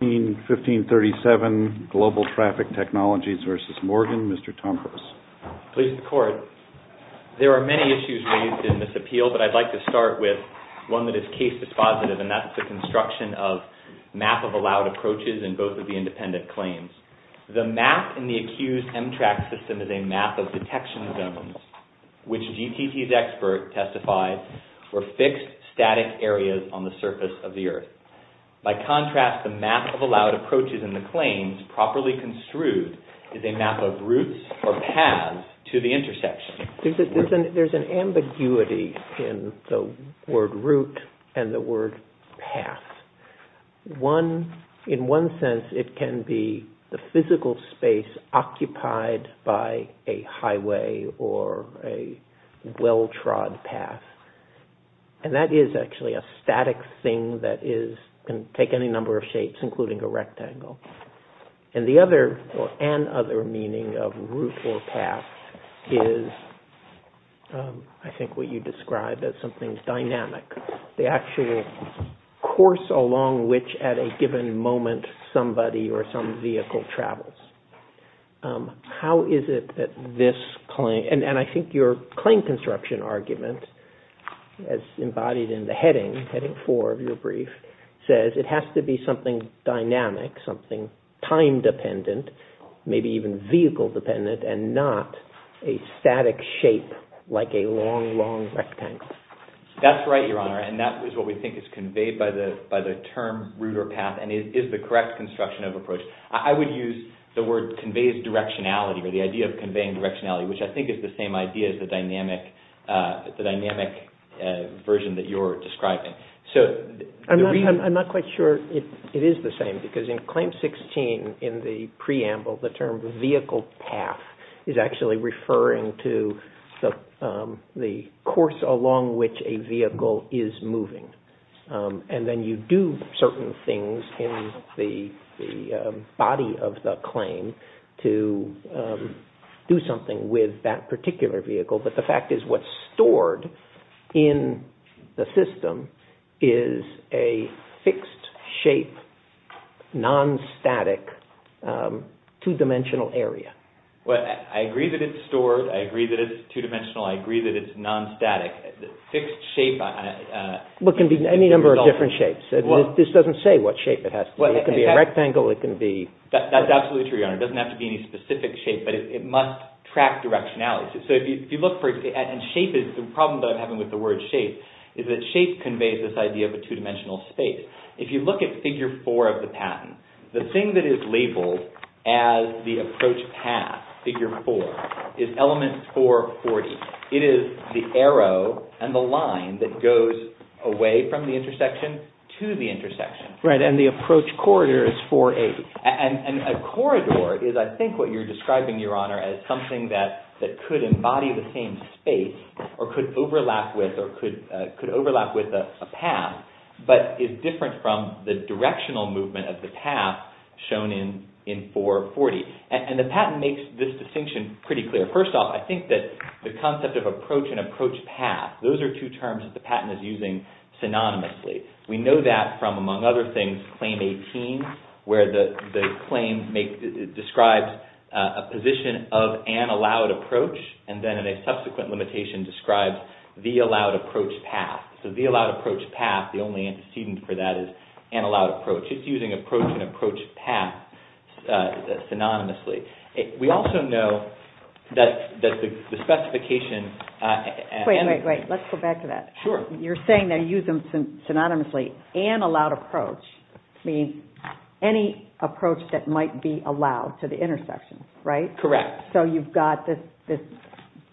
Please record. There are many issues raised in this appeal, but I'd like to start with one that is case dispositive, and that's the construction of map-of-allowed approaches in both of the independent claims. The map in the accused MTRAC system is a map of detection zones, which GTT's expert testified were fixed, static areas on the surface of the road. The map-of-allowed approaches in the claims properly construed is a map of routes or paths to the intersection. There's an ambiguity in the word route and the word path. In one sense, it can be the physical space occupied by a highway or a well-trod path, and that is actually a static thing that can take any number of shapes, including a rectangle. And the other, or an other, meaning of route or path is I think what you described as something dynamic, the actual course along which at a given moment somebody or some vehicle travels. How is it that this claim, and I think your claim construction argument as embodied in the heading, heading four of your brief, says it has to be something dynamic, something time-dependent, maybe even vehicle-dependent, and not a static shape like a long, long rectangle. That's right, Your Honor, and that is what we think is conveyed by the term route or path, and is the correct construction of approach. I would use the word conveys directionality, or the idea of conveying directionality, which I think is the same idea as the dynamic version that you're describing. I'm not quite sure it is the same, because in Claim 16, in the preamble, the term vehicle path is actually referring to the course along which a vehicle is moving, and then you do certain things in the body of the claim to do something with that particular vehicle, but the fact is what's stored in the system is a fixed shape, non-static, two-dimensional area. Well, I agree that it's stored, I agree that it's two-dimensional, I agree that it's any number of different shapes. This doesn't say what shape it has to be. It can be a rectangle, it can be... That's absolutely true, Your Honor. It doesn't have to be any specific shape, but it must track directionality. So if you look for, and shape is, the problem that I'm having with the word shape is that shape conveys this idea of a two-dimensional space. If you look at figure four of the patent, the thing that is labeled as the approach path, figure four, is element 440. It is the arrow and the line that goes away from the intersection to the intersection. Right, and the approach corridor is 480. And a corridor is, I think, what you're describing, Your Honor, as something that could embody the same space, or could overlap with a path, but is different from the directional movement of the path shown in 440. And the answer is pretty clear. First off, I think that the concept of approach and approach path, those are two terms that the patent is using synonymously. We know that from, among other things, Claim 18, where the claim describes a position of an allowed approach, and then in a subsequent limitation, describes the allowed approach path. So the allowed approach path, the only antecedent for that is an allowed approach. It's using approach and approach path synonymously. We also know that the specification... Wait, wait, wait. Let's go back to that. Sure. You're saying they use them synonymously. An allowed approach means any approach that might be allowed to the intersection, right? Correct. So you've got this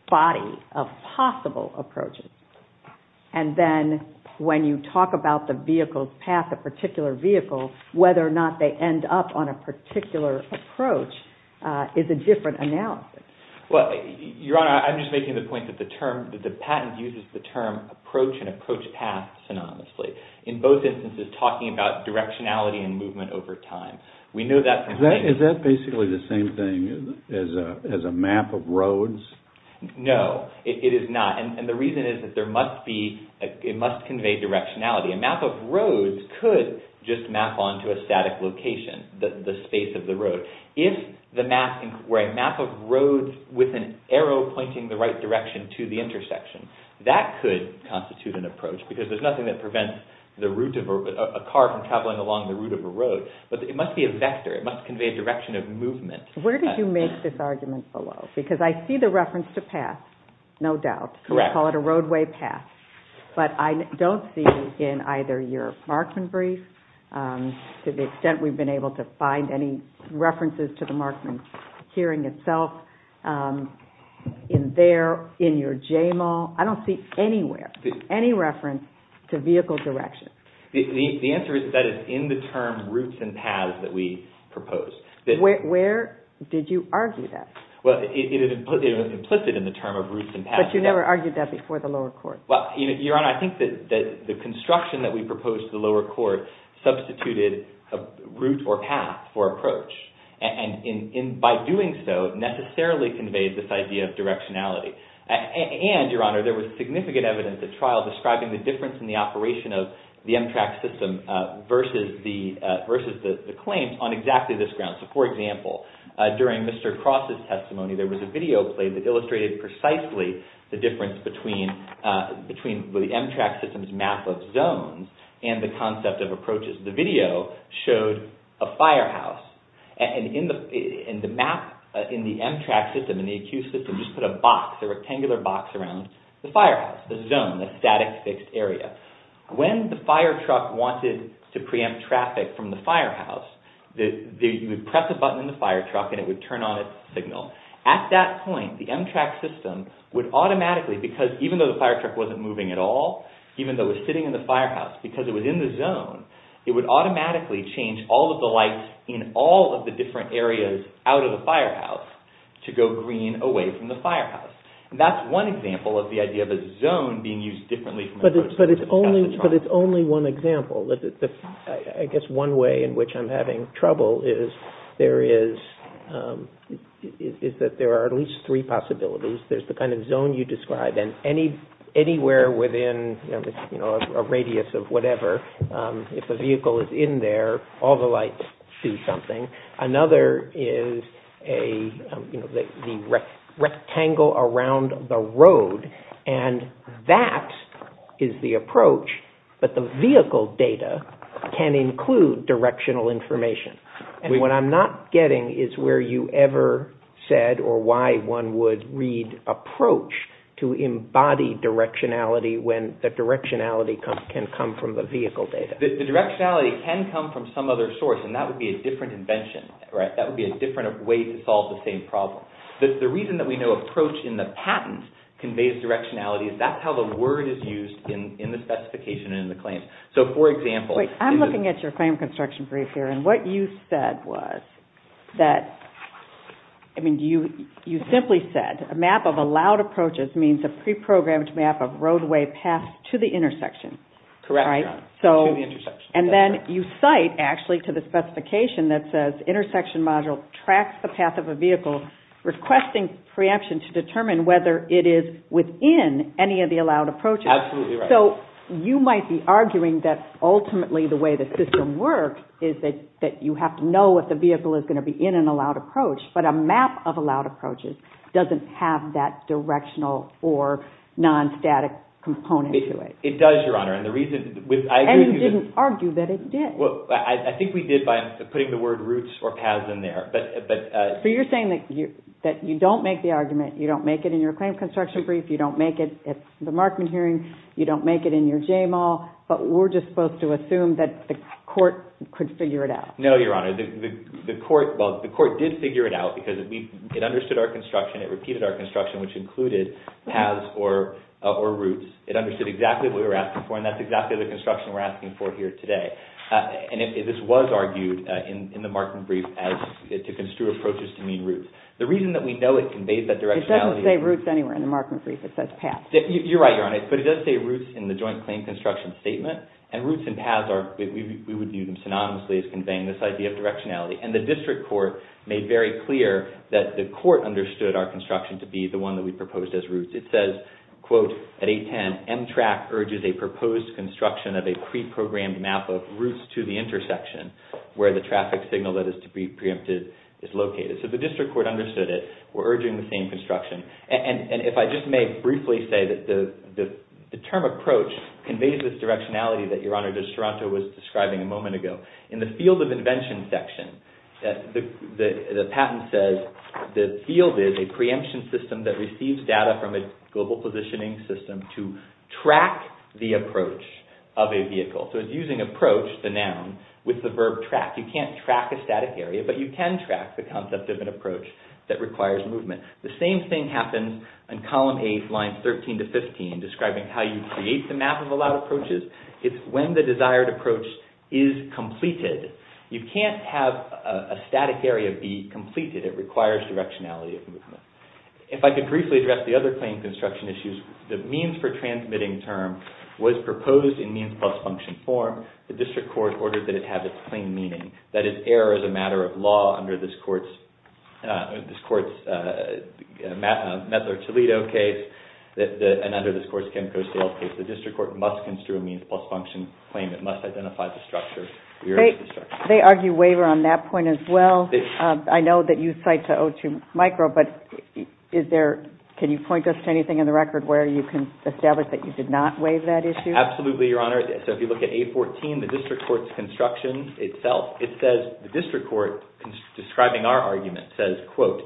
body of possible approaches. And then when you talk about the vehicle's path, a particular vehicle, whether or not they end up on a particular approach, is a different analysis. Your Honor, I'm just making the point that the patent uses the term approach and approach path synonymously, in both instances talking about directionality and movement over time. Is that basically the same thing as a map of roads? No, it is not. And the reason is that it must convey directionality. A map of roads could just map onto a static location, the space of the road. If the map, where a map of roads with an arrow pointing the right direction to the intersection, that could constitute an approach, because there's nothing that prevents a car from traveling along the route of a road, but it must be a vector. It must convey direction of movement. Where did you make this argument below? Because I see the reference to path, no doubt. Correct. We call it a roadway path. But I don't see in either your Markman brief, to the extent we've been able to find any references to the Markman hearing itself, in there, in your JMAL, I don't see anywhere, any reference to vehicle direction. The answer is that it's in the term routes and paths that we proposed. Where did you argue that? Well, it was implicit in the report. I think that the construction that we proposed to the lower court substituted a route or path for approach. And by doing so, necessarily conveyed this idea of directionality. And, Your Honor, there was significant evidence at trial describing the difference in the operation of the MTRAC system versus the claims on exactly this ground. So, for example, during Mr. Cross's testimony, there was a video played that illustrated precisely the difference between the MTRAC system's map of zones and the concept of approaches. The video showed a firehouse. And in the map, in the MTRAC system, in the ACUE system, just put a box, a rectangular box around the firehouse, the zone, the static fixed area. When the firetruck wanted to preempt traffic from the firehouse, you would press a button and it would turn on its signal. At that point, the MTRAC system would automatically, because even though the firetruck wasn't moving at all, even though it was sitting in the firehouse, because it was in the zone, it would automatically change all of the lights in all of the different areas out of the firehouse to go green away from the firehouse. That's one example of the idea of a zone being used differently. But it's only one example. I guess one way in which to look at it is that there are at least three possibilities. There's the kind of zone you described and anywhere within a radius of whatever, if a vehicle is in there, all the lights do something. Another is the rectangle around the road. And that is the approach, but the vehicle data can include directional information. What I'm not getting is where you ever said or why one would read approach to embody directionality when the directionality can come from the vehicle data. The directionality can come from some other source and that would be a different invention. That would be a different way to solve the same problem. The reason that we know approach in the patent conveys directionality is that's how the word is used in the specification and in the example. I'm looking at your frame construction brief here and what you said was that, I mean, you simply said a map of allowed approaches means a pre-programmed map of roadway paths to the intersection. Correct. And then you cite actually to the specification that says intersection module tracks the path of a vehicle requesting preemption to determine whether it is within any of the allowed approaches. Absolutely right. So you might be arguing that ultimately the way the system works is that you have to know if the vehicle is going to be in an allowed approach, but a map of allowed approaches doesn't have that directional or non-static component to it. It does, Your Honor, and the reason... And you didn't argue that it did. Well, I think we did by putting the word routes or paths in there, but... So you're saying that you don't make the argument, you don't make it in your claim construction brief, you don't make it at the Markman hearing, you don't make it in your JMAL, but we're just supposed to assume that the court could figure it out. No, Your Honor. The court... Well, the court did figure it out because it understood our construction, it repeated our construction, which included paths or routes. It understood exactly what we were asking for and that's exactly the construction we're asking for here today. And this was argued in the Markman brief as to construe approaches to mean routes. The reason that we know it conveys that directionality... It doesn't say routes anywhere in the Markman brief, it says paths. You're right, Your Honor, but it does say routes in the joint claim construction statement and routes and paths, we would view them synonymously as conveying this idea of directionality. And the district court made very clear that the court understood our construction to be the one that we proposed as routes. It says, quote, at 810, M-TRAC urges a proposed construction of a pre-programmed map of routes to the intersection where the traffic signal that is to be preempted is located. So the district court understood it. We're urging the same construction. And if I just may briefly say that the term approach conveys this directionality that Your Honor, just Toronto was describing a moment ago. In the field of invention section, the patent says the field is a preemption system that receives data from a global positioning system to track the approach of a vehicle. So it's using approach, the noun, with the verb track. You can't track a static area, but you can track the concept of an approach that requires movement. The same thing happens in column A lines 13 to 15 describing how you create the map of allowed approaches. It's when the desired approach is completed. You can't have a static area be completed. It requires directionality of movement. If I could briefly address the other claim construction issues, the means for transmitting term was proposed in means plus function form. The district court ordered that it have its plain meaning, that it err as a matter of law under this court's Metzler-Toledo case and under this court's Kemco-Stale case. The district court must construe a means plus function claim. It must identify the structure. They argue waiver on that point as well. I know that you cite to O2 micro, but can you point us to anything in the record where you can establish that you did not waive that issue? Absolutely, Your Honor. So if you look at A14, the district court's construction itself, it says the district court describing our argument says, quote,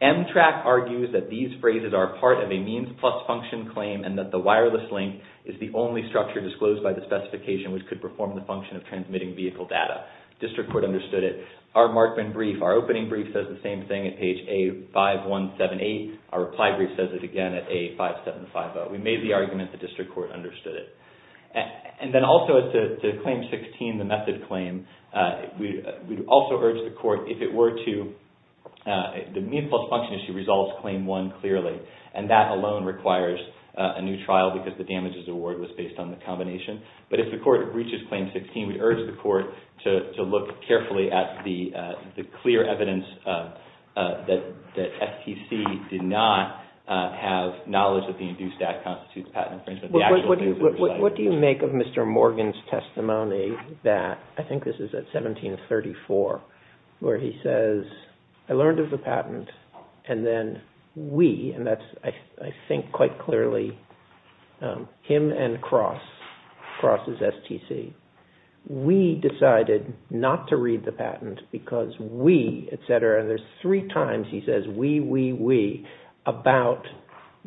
M-TRAC argues that these phrases are part of a means plus function claim and that the wireless link is the only structure disclosed by the specification which could perform the function of transmitting vehicle data. District court understood it. Our Markman brief, our opening brief says the same thing at page A5178. Our reply brief says it again at A5750. We made the argument the district court understood it. And then also at the Claim 16, the method claim, we also urge the court if it were to, the means plus function issue resolves Claim 1 clearly, and that alone requires a new trial because the damages award was based on the combination. But if the court breaches Claim 16, we urge the court to look carefully at the clear evidence that STC did not have knowledge that the induced act constitutes patent infringement. What do you make of Mr. Morgan's testimony that, I think this is at 1734, where he says, I learned of the patent and then we, and that's I think quite clearly him and Cross, Cross is STC, we decided not to read the patent because we, et cetera, and there's three times he says we, we, we about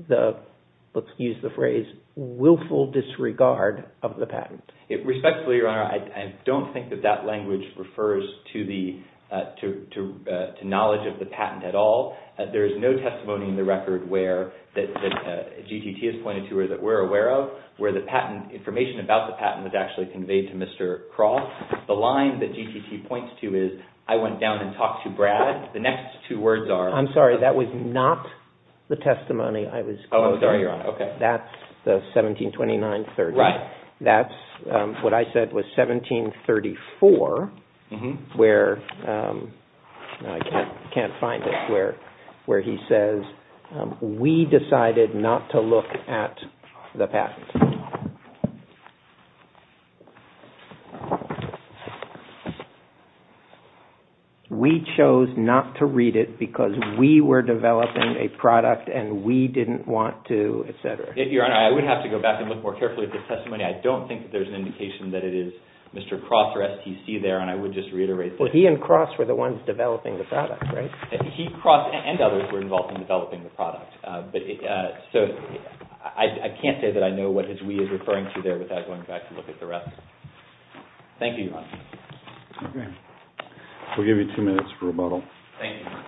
the, let's use the phrase, willful disregard of the patent. Respectfully, Your Honor, I don't think that that language refers to knowledge of the patent at all. There is no testimony in the record where, that GTT has pointed to or that we're aware of, where the patent information about the patent was actually conveyed to Mr. Cross. The line that GTT points to is, I went down and talked to Brad. The next two words are. I'm sorry, that was not the testimony I was. Oh, I'm sorry, Your Honor. Okay. That's the 1729-30. Right. That's what I said was 1734, where I can't, can't find it where, where he says, we decided not to look at the patent. We chose not to read it because we were developing a product and we didn't want to, et cetera. Your Honor, I would have to go back and look more carefully at this testimony. I don't think that there's an indication that it is Mr. Cross or STC there, and I would just reiterate that. Well, he and Cross were the ones developing the product, right? He, Cross, and others were involved in developing the product. But, so I can't say that I know what his we is referring to there without going back to look at the rest. Thank you, Your Honor. Okay. We'll give you two minutes for rebuttal. Thank you, Your Honor.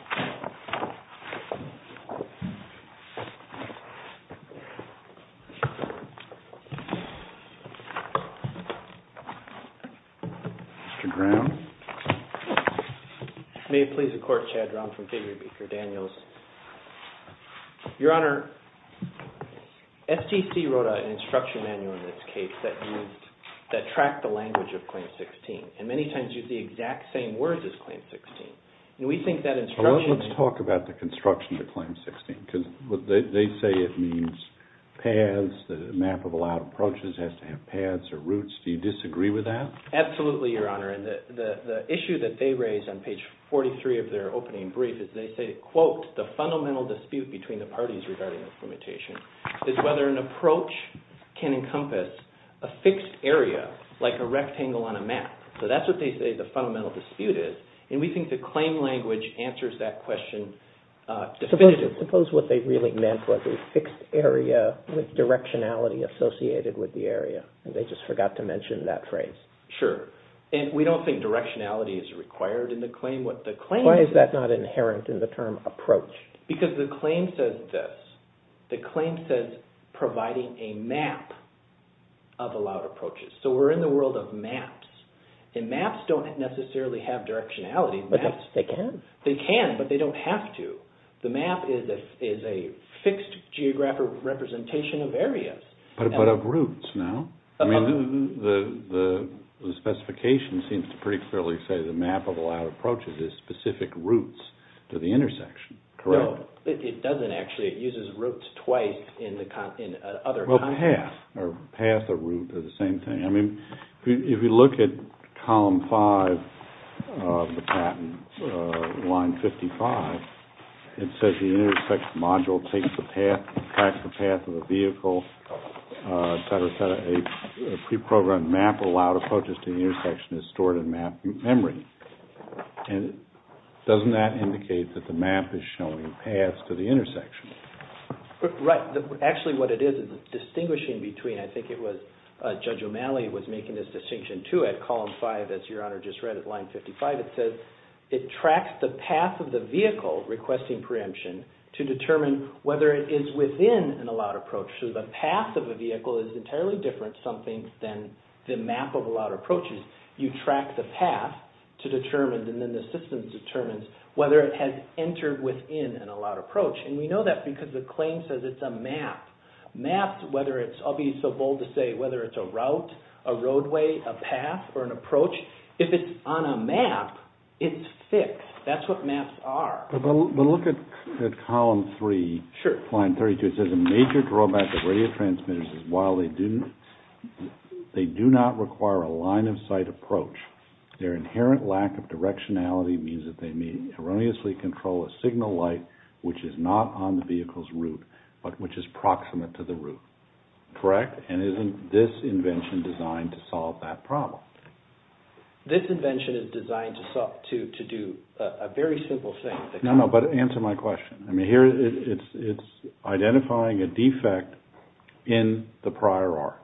Mr. Brown. May it please the Court, Chad Brown from Figury Beaker Daniels. Your Honor, STC wrote an instruction manual in this case that used, that tracked the language of Claim 16, and many times used the exact same words as Claim 16. And we think that instruction manual... Well, let's talk about the construction of Claim 16, because they say it means paths, the map of allowed approaches has to have paths or routes. Do you disagree with that? Absolutely, Your Honor. And the issue that they raised on page 43 of their opening brief is they say, quote, the fundamental dispute between the parties regarding implementation is whether an approach can encompass a fixed area, like a rectangle on a map. So that's what they say the fundamental dispute is. And we think the claim language answers that question definitively. Suppose what they really meant was a fixed area with directionality associated with the area, and they just forgot to mention that phrase. Sure. And we don't think directionality is required in the claim. Why is that not inherent in the term approach? Because the claim says this. The claim says providing a map of allowed approaches. So we're in the world of maps, and maps don't necessarily have directionality. But they can. They can, but they don't have to. The map is a fixed geographic representation of areas. But of routes, no? I mean, the specification seems to pretty clearly say the map of allowed approaches is specific routes to the intersection, correct? No, it doesn't actually. It uses routes twice in other contexts. Well, path or route are the same thing. I mean, if you look at column five of the patent, line 55, it says the intersect module takes the path, tracks the path of a vehicle, et cetera, et cetera. A pre-programmed map of allowed approaches to the intersection is stored in map memory. And doesn't that indicate that the map is showing paths to the intersection? Right. Actually, what it is, it's distinguishing between, I think it was Judge O'Malley was making this distinction too at column five, as Your Honor just read at line 55. It says it tracks the path of the vehicle requesting preemption to determine whether it is within an allowed approach. So the path of a vehicle is entirely different, some think, than the map of allowed approaches. You track the path to determine, and then the system determines whether it has entered within an allowed approach. And we know that because the claim says it's a map. Maps, whether it's, I'll be so bold to say, whether it's a route, a roadway, a path, or an approach, if it's on a map, it's fixed. That's what maps are. But look at column three. Sure. It says a major drawback of radio transmitters is, while they do not require a line-of-sight approach, their inherent lack of directionality means that they may erroneously control a signal light which is not on the vehicle's route, but which is proximate to the route. Correct? And isn't this invention designed to solve that problem? This invention is designed to do a very simple thing. No, no, but answer my question. It's identifying a defect in the prior art.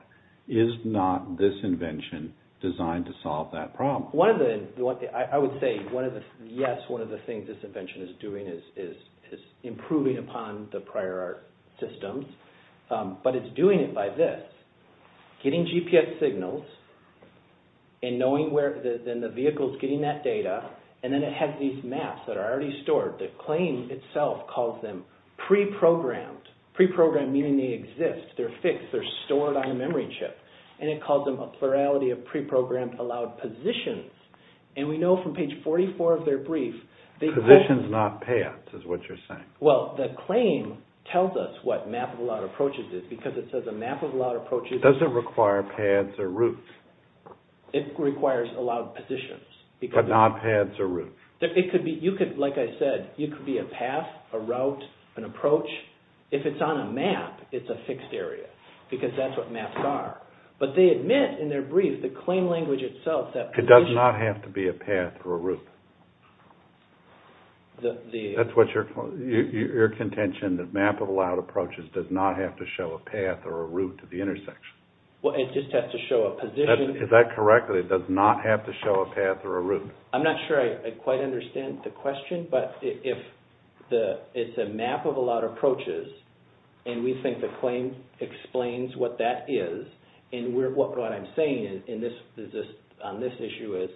Is not this invention designed to solve that problem? I would say, yes, one of the things this invention is doing is improving upon the prior art systems, but it's doing it by this. Getting GPS signals and knowing where the vehicle is getting that data, and then it has these maps that are already stored. The claim itself calls them pre-programmed. Pre-programmed meaning they exist. They're fixed. They're stored on a memory chip. And it calls them a plurality of pre-programmed allowed positions. And we know from page 44 of their brief, they- Positions, not paths, is what you're saying. Well, the claim tells us what map-of-aloud approaches is because it says a map-of-aloud approach is- Doesn't require paths or routes. It requires allowed positions. But not paths or routes. It could be, like I said, it could be a path, a route, an approach. If it's on a map, it's a fixed area because that's what maps are. But they admit in their brief, the claim language itself that- It does not have to be a path or a route. That's what you're contention, that map-of-aloud approaches does not have to show a path or a route to the intersection. Well, it just has to show a position. Is that correct? That it does not have to show a path or a route? I'm not sure I quite understand the question. But if the- It's a map-of-aloud approaches and we think the claim explains what that is and what I'm saying on this issue is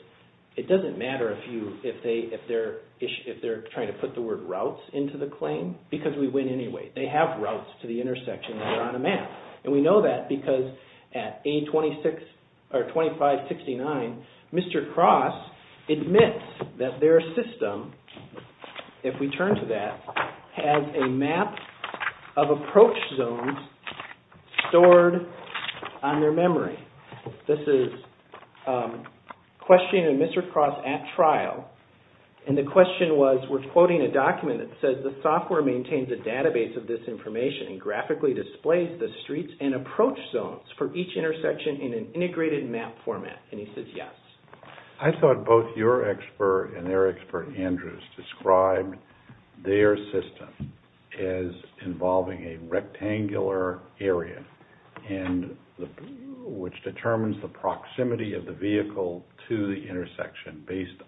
it doesn't matter if they're trying to put the word routes into the claim because we win anyway. They have routes to the intersection that are on a map. And we know that because at A2569, Mr. Cross admits that their system, if we turn to that, has a map of approach zones stored on their memory. This is questioning Mr. Cross at trial. And the question was, we're quoting a document that says, the software maintains a database of this information and graphically displays the streets and approach zones for each intersection in an integrated map format. And he says, yes. I thought both your expert and their expert, Andrews, described their system as involving a rectangular area which determines the proximity of the vehicle to the intersection based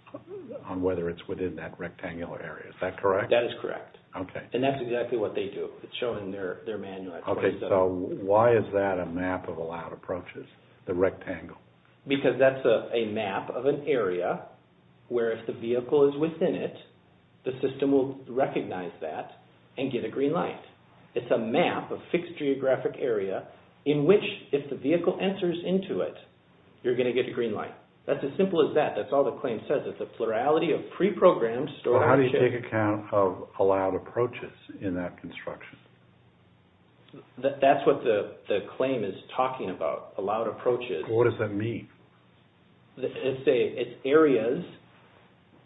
on whether it's within that rectangular area. Is that correct? That is correct. Okay. And that's exactly what they do. It's shown in their manual. Okay. So why is that a map-of-aloud approaches, the rectangle? Because that's a map of an area where if the vehicle is within it, the system will recognize that and get a green light. It's a map of fixed geographic area in which, if the vehicle enters into it, you're going to get a green light. That's as simple as that. That's all the claim says. It's a plurality of pre-programmed storage. How do you take account of allowed approaches in that construction? That's what the claim is talking about, allowed approaches. What does that mean? It's areas.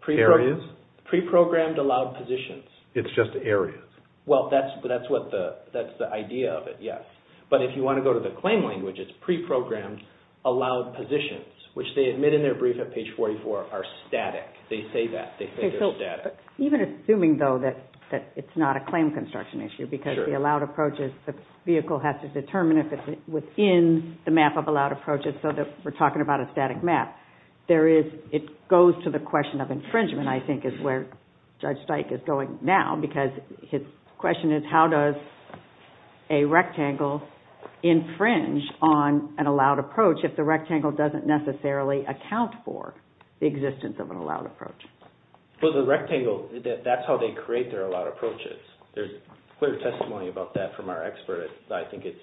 Areas? Pre-programmed allowed positions. It's just areas? Well, that's the idea of it, yes. But if you want to go to the claim language, it's pre-programmed allowed positions, which they admit in their brief at page 44, are static. They say that. They say they're static. Even assuming, though, that it's not a claim construction issue because the allowed approaches, the vehicle has to determine if it's within the map of allowed approaches so that we're talking about a static map. It goes to the question of infringement, I think, is where Judge Stike is going now because his question is, how does a rectangle infringe on an allowed approach if the rectangle doesn't necessarily account for the existence of an allowed approach? Well, the rectangle, that's how they create their allowed approaches. There's clear testimony about that from our expert. I think it's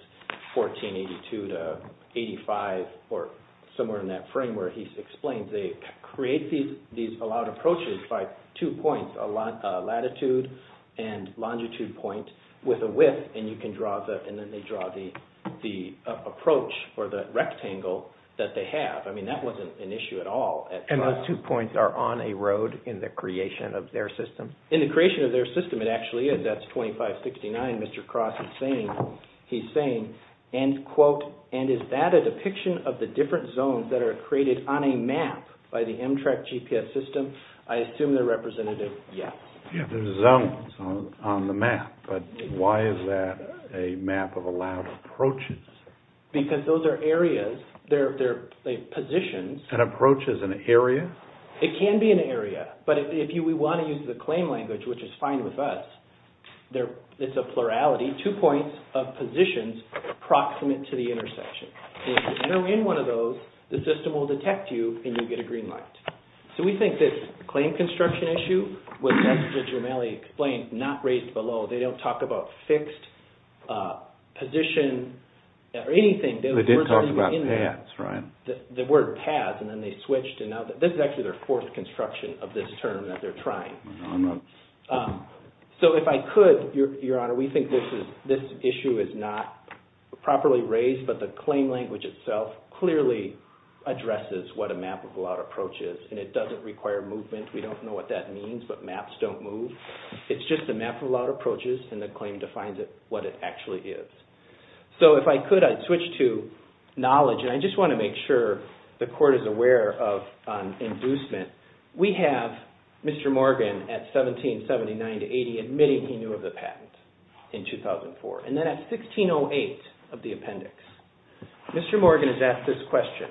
1482 to 85 or somewhere in that frame where he explains they create these allowed approaches by two points, a latitude and longitude point with a width, and then they draw the approach for the rectangle that they have. I mean, that wasn't an issue at all. And those two points are on a road in the creation of their system? In the creation of their system, it actually is. That's 2569, Mr. Cross, he's saying, and quote, and is that a depiction of the different zones that are created on a map by the M-TRAC GPS system? I assume their representative, yes. Yeah, there's zones on the map, but why is that a map of allowed approaches? Because those are areas, they're positions. An approach is an area? It can be an area, but if we want to use the claim language, which is fine with us, it's a plurality, two points of positions approximate to the intersection. So if you enter in one of those, the system will detect you and you'll get a green light. So we think this claim construction issue was, as Mr. Jumeli explained, not raised below. They don't talk about fixed position or anything. They did talk about paths, right? The word paths, and then they switched, and now this is actually their fourth construction of this term that they're trying. So if I could, Your Honor, we think this issue is not properly raised, but the claim language itself clearly addresses what a map of allowed approach is, and it doesn't require movement. We don't know what that means, but maps don't move. It's just a map of allowed approaches, and the claim defines it, what it actually is. So if I could, I'd switch to knowledge, and I just want to make sure the court is aware of inducement. We have Mr. Morgan at 1779 to 1880 admitting he knew of the patent in 2004, and then at 1608 of the appendix, Mr. Morgan is asked this question.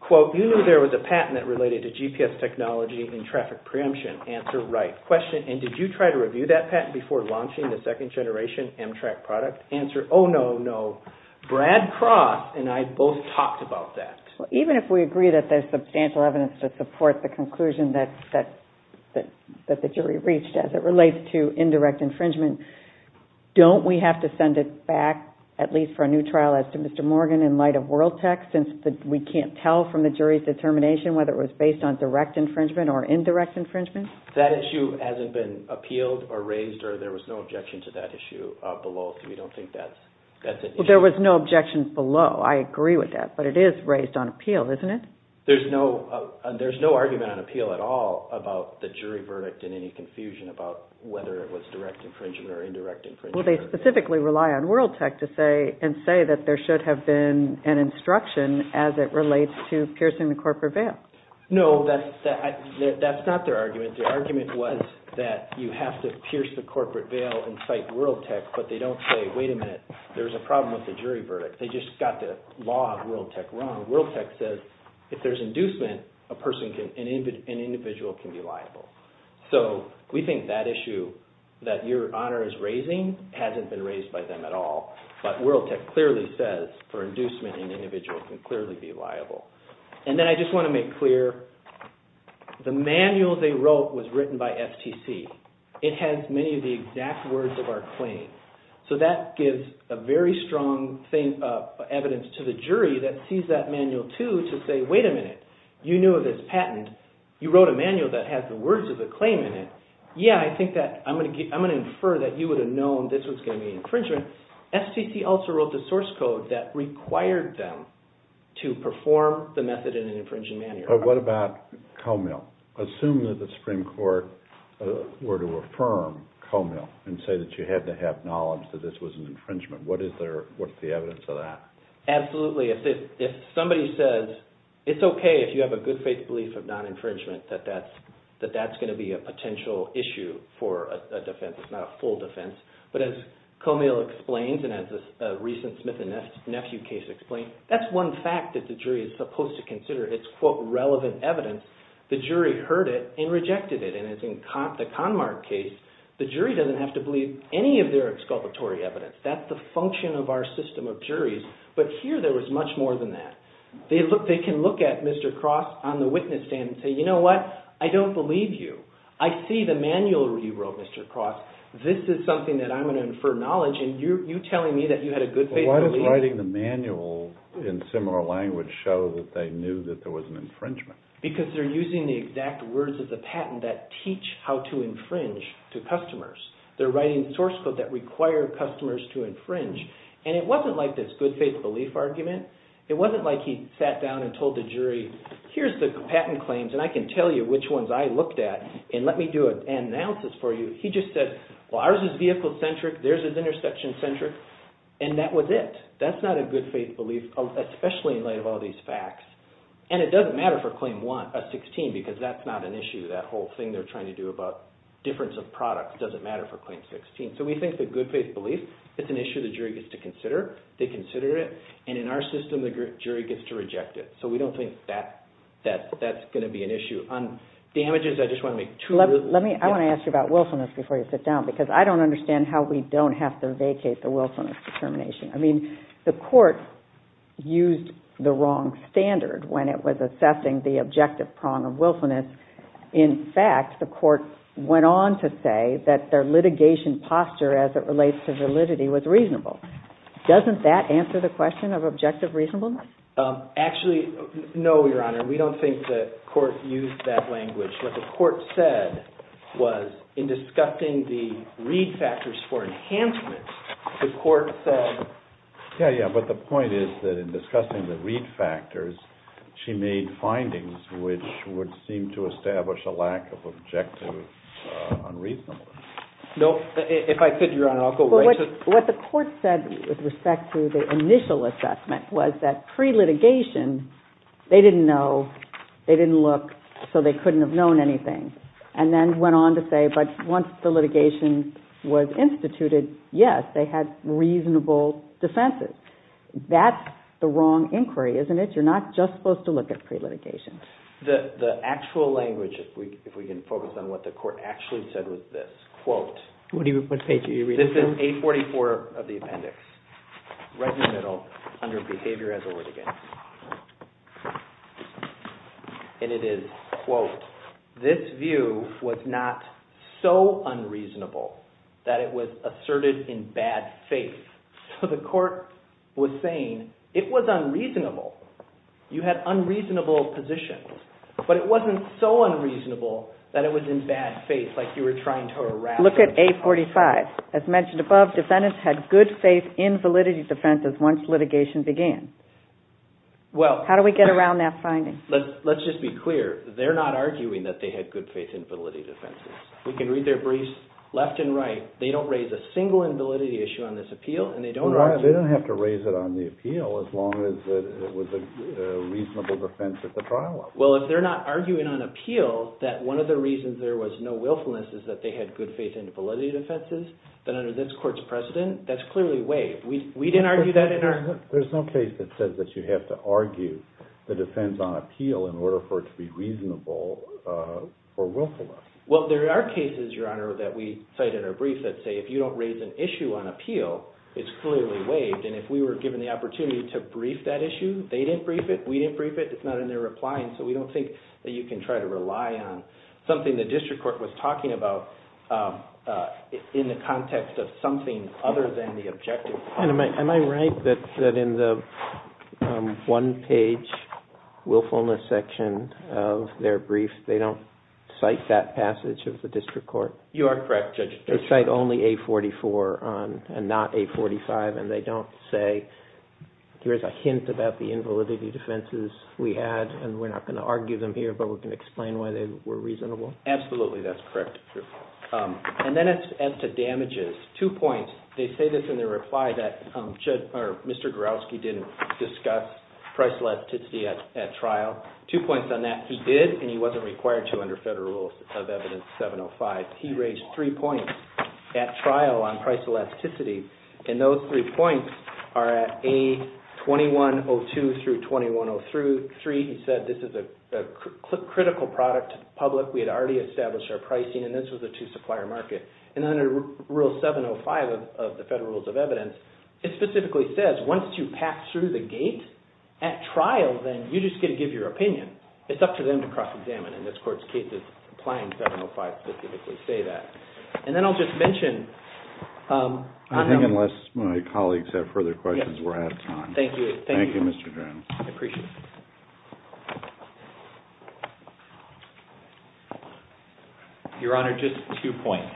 Quote, you knew there was a patent that related to GPS technology and traffic preemption. Answer, right. Question, and did you try to review that patent before launching the second generation Amtrak product? Answer, oh no, no. Brad Cross and I both talked about that. Even if we agree that there's substantial evidence to support the conclusion that the jury reached as it relates to indirect infringement, don't we have to send it back, at least for a new trial, as to Mr. Morgan in light of world tech, since we can't tell from the jury's determination whether it was based on direct infringement or indirect infringement? That issue hasn't been appealed or raised, or there was no objection to that issue below, so we don't think that's an issue. There was no objections below, I agree with that, but it is raised on appeal, isn't it? There's no argument on appeal at all about the jury verdict and any confusion about whether it was direct infringement or indirect infringement. Well, they specifically rely on world tech to say, and say that there should have been an instruction as it relates to piercing the corporate veil. No, that's not their argument. Their argument was that you have to pierce the corporate veil and cite world tech, but they don't say, wait a minute, there's a problem with the jury verdict. They just got the law of world tech wrong. World tech says if there's inducement, a person can, an individual can be liable. So we think that issue that your honor is raising hasn't been raised by them at all, but world tech clearly says for inducement, an individual can clearly be liable. And then I just want to make clear, the manual they wrote was written by FTC. It has many of the exact words of our claim. So that gives a very strong evidence to the jury that sees that manual too to say, wait a minute, you knew of this patent. You wrote a manual that has the words of the claim in it. Yeah, I think that I'm going to infer that you would have known this was going to be infringement. FTC also wrote the source code that required them to perform the method in an infringing manner. But what about Co-Mill? Assume that the Supreme Court were to affirm Co-Mill and say that you had to have knowledge that this was an infringement. What is the evidence of that? Absolutely. If somebody says it's okay if you have a good faith belief of non-infringement, that that's going to be a potential issue for a defense. It's not a full defense. But as Co-Mill explains, and as the recent Smith and Nephew case explained, that's one fact that the jury is supposed to consider. It's quote relevant evidence. The jury heard it and rejected it. And as in the Conmart case, the jury doesn't have to believe any of their exculpatory evidence. That's the function of our system of juries. But here there was much more than that. They can look at Mr. Cross on the witness stand and say, you know what? I don't believe you. I see the manual you wrote, Mr. Cross. This is something that I'm going to infer knowledge and you're telling me that you had a good faith belief? Why does writing the manual in similar language show that they knew that there was an infringement? Because they're using the exact words of the patent that teach how to infringe to customers. They're writing source code that require customers to infringe. And it wasn't like this good faith belief argument. It wasn't like he sat down and told the jury, here's the patent claims and I can tell you which ones I looked at and let me do an analysis for you. He just said, well, ours is vehicle centric. There's is intersection centric. And that was it. That's not a good faith belief, especially in light of all these facts. And it doesn't matter for claim 16 because that's not an issue. That whole thing they're trying to do about difference of products doesn't matter for claim 16. So we think the good faith belief is an issue the jury gets to consider. They consider it. And in our system, the jury gets to reject it. So we don't think that's going to be an issue. On damages, I just want to make two- Let me, I want to ask you about willfulness before you sit down because I don't understand how we don't have to vacate the willfulness determination. I mean, the court used the wrong standard when it was assessing the objective prong of willfulness. In fact, the court went on to say that their litigation posture as it relates to validity was reasonable. Doesn't that answer the question of objective reasonableness? Actually, no, Your Honor. We don't think the court used that language. What the court said was in discussing the read factors for enhancements, the court said- Yeah, yeah. But the point is that in discussing the read factors, she made findings which would seem to establish a lack of objective unreasonableness. No, if I sit, Your Honor, I'll go right to- What the court said with respect to the initial assessment was that pre-litigation, they didn't know, they didn't look, so they couldn't have known anything. And then went on to say, but once the litigation was instituted, yes, they had reasonable defenses. That's the wrong inquiry, isn't it? You're not just supposed to look at pre-litigation. The actual language, if we can focus on what the court actually said was this, quote- What page are you reading? This is page 44 of the appendix, right in the middle, under behavior as a litigant. And it is, quote, this view was not so unreasonable that it was asserted in bad faith. So the court was saying it was unreasonable. You had unreasonable positions, but it wasn't so unreasonable that it was in bad faith, like you were trying to harass- Look at A45. As mentioned above, defendants had good faith in validity defenses once litigation began. How do we get around that finding? Let's just be clear. They're not arguing that they had good faith in validity defenses. We can read their briefs left and right. They don't raise a single invalidity issue on this appeal, and they don't- They don't have to raise it on the appeal, as long as it was a reasonable defense at the trial level. Well, if they're not arguing on appeal that one of the reasons there was no willfulness is that they had good faith in validity defenses, then under this court's precedent, that's clearly waived. We didn't argue that in our- There's no case that says that you have to argue the defense on appeal in order for it to be reasonable for willfulness. Well, there are cases, Your Honor, that we cite in our brief that say if you don't raise an issue on appeal, it's clearly waived, and if we were given the opportunity to brief that issue, they didn't brief it, we didn't brief it, it's not in their reply, and so we don't think that you can try to rely on something the district court was talking about in the context of something other than the objective. Am I right that in the one-page willfulness section of their brief, they don't cite that passage of the district court? You are correct, Judge. They cite only A44 and not A45, and they don't say, here's a hint about the invalidity defenses we had, and we're not going to argue them here, but we can explain why they were reasonable. Absolutely, that's correct. And then as to damages, two points. They say this in their reply that Mr. Garowski didn't discuss price elasticity at trial. Two points on that. He did, and he wasn't required to under federal rules of evidence 705. He raised three points at trial on price elasticity, and those three points are at A2102 through 2103. He said this is a critical product to the public. We had already established our pricing, and this was a two-supplier market. And then under rule 705 of the federal rules of evidence, it specifically says, once you pass through the gate at trial, then you just get to give your opinion. It's up to them to cross-examine. In this court's case, it's applying 705 to typically say that. And then I'll just mention I think unless my colleagues have further questions, we're out of time. Thank you. Thank you, Mr. Jones. I appreciate it. Your Honor, just two points.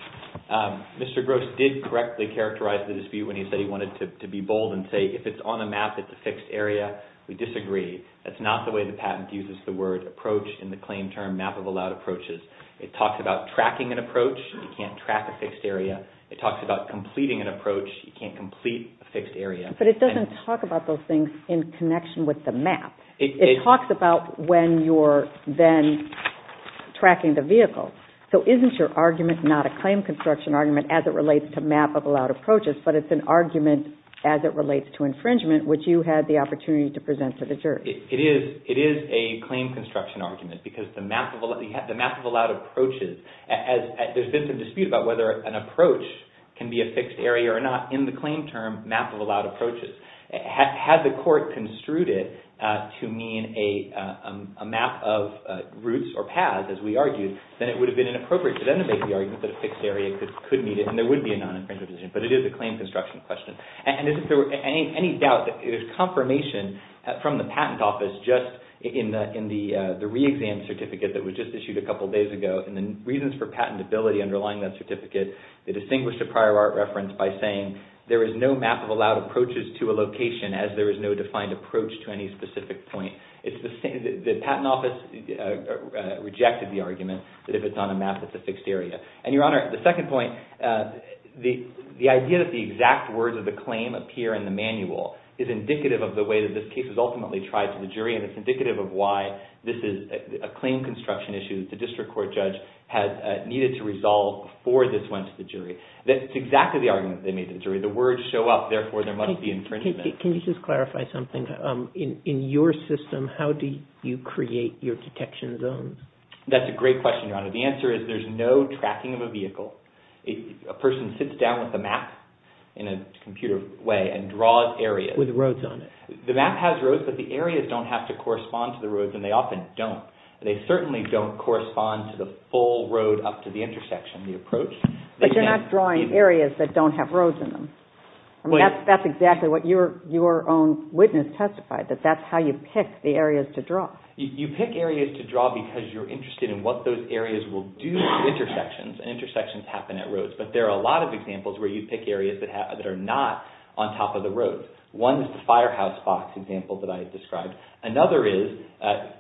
Mr. Gross did correctly characterize the dispute when he said he wanted to be bold and say if it's on a map, it's a fixed area. We disagree. That's not the way the patent uses the word approach in the claim term map of allowed approaches. It talks about tracking an approach. You can't track a fixed area. It talks about completing an approach. You can't complete a fixed area. But it doesn't talk about those things in connection with the map. It talks about when you're then tracking the vehicle. So isn't your argument not a claim construction argument as it relates to map of allowed approaches, but it's an argument as it relates to infringement, which you had the opportunity to present to the jury? It is a claim construction argument because the map of allowed approaches, there's been some dispute about whether an approach can be a fixed area or not in the claim term map of allowed approaches. Had the court construed it to mean a map of routes or paths, as we argued, then it would have been inappropriate to then make the argument that a fixed area could meet it and there would be a non-infringement decision. But it is a claim construction question. And is there any doubt that there's confirmation from the patent office just in the re-exam certificate that was just issued a couple of days ago and the reasons for patentability underlying that certificate, they distinguished a prior art reference by saying there is no map of allowed approaches to a location as there is no defined approach to any specific point. It's the patent office rejected the argument that if it's on a map, it's a fixed area. And Your Honor, the second point, the idea that the exact words of the claim appear in the manual is indicative of the way that this case is ultimately tried to the jury. And it's indicative of why this is a claim construction issue that the district court judge needed to resolve before this went to the jury. That's exactly the argument they made to the jury. The words show up, therefore, there must be infringement. Can you just clarify something? In your system, how do you create your detection zones? That's a great question, Your Honor. The answer is there's no tracking of a vehicle. A person sits down with a map in a computer way and draws areas. With roads on it. The map has roads, but the areas don't have to correspond to the roads and they often don't. They certainly don't correspond to the full road up to the intersection, the approach. But you're not drawing areas that don't have roads in them. I mean, that's exactly what your own witness testified, that that's how you pick the areas to draw. You pick areas to draw because you're interested in what those areas will do to intersections and intersections happen at roads. But there are a lot of examples where you pick areas that are not on top of the roads. One is the firehouse box example that I described. Another is,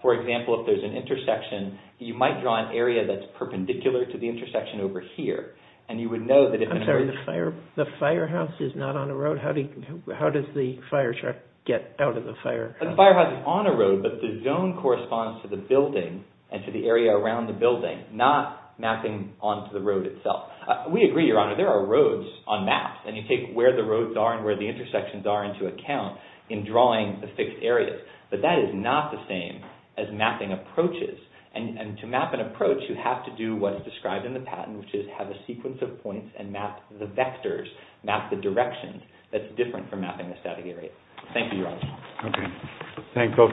for example, if there's an intersection, you might draw an area that's perpendicular to the intersection over here. And you would know that... I'm sorry, the firehouse is not on a road? How does the fire truck get out of the fire? The firehouse is on a road, but the zone corresponds to the building and to the area around the building, not mapping onto the road itself. We agree, Your Honor, there are roads on maps and you take where the roads are and where the intersections are into account in drawing the fixed areas. But that is not the same as mapping approaches. And to map an approach, you have to do what is described in the patent, which is have a sequence of points and map the vectors, map the direction that's different from mapping the static area. Thank you, Your Honor. Okay, thank you.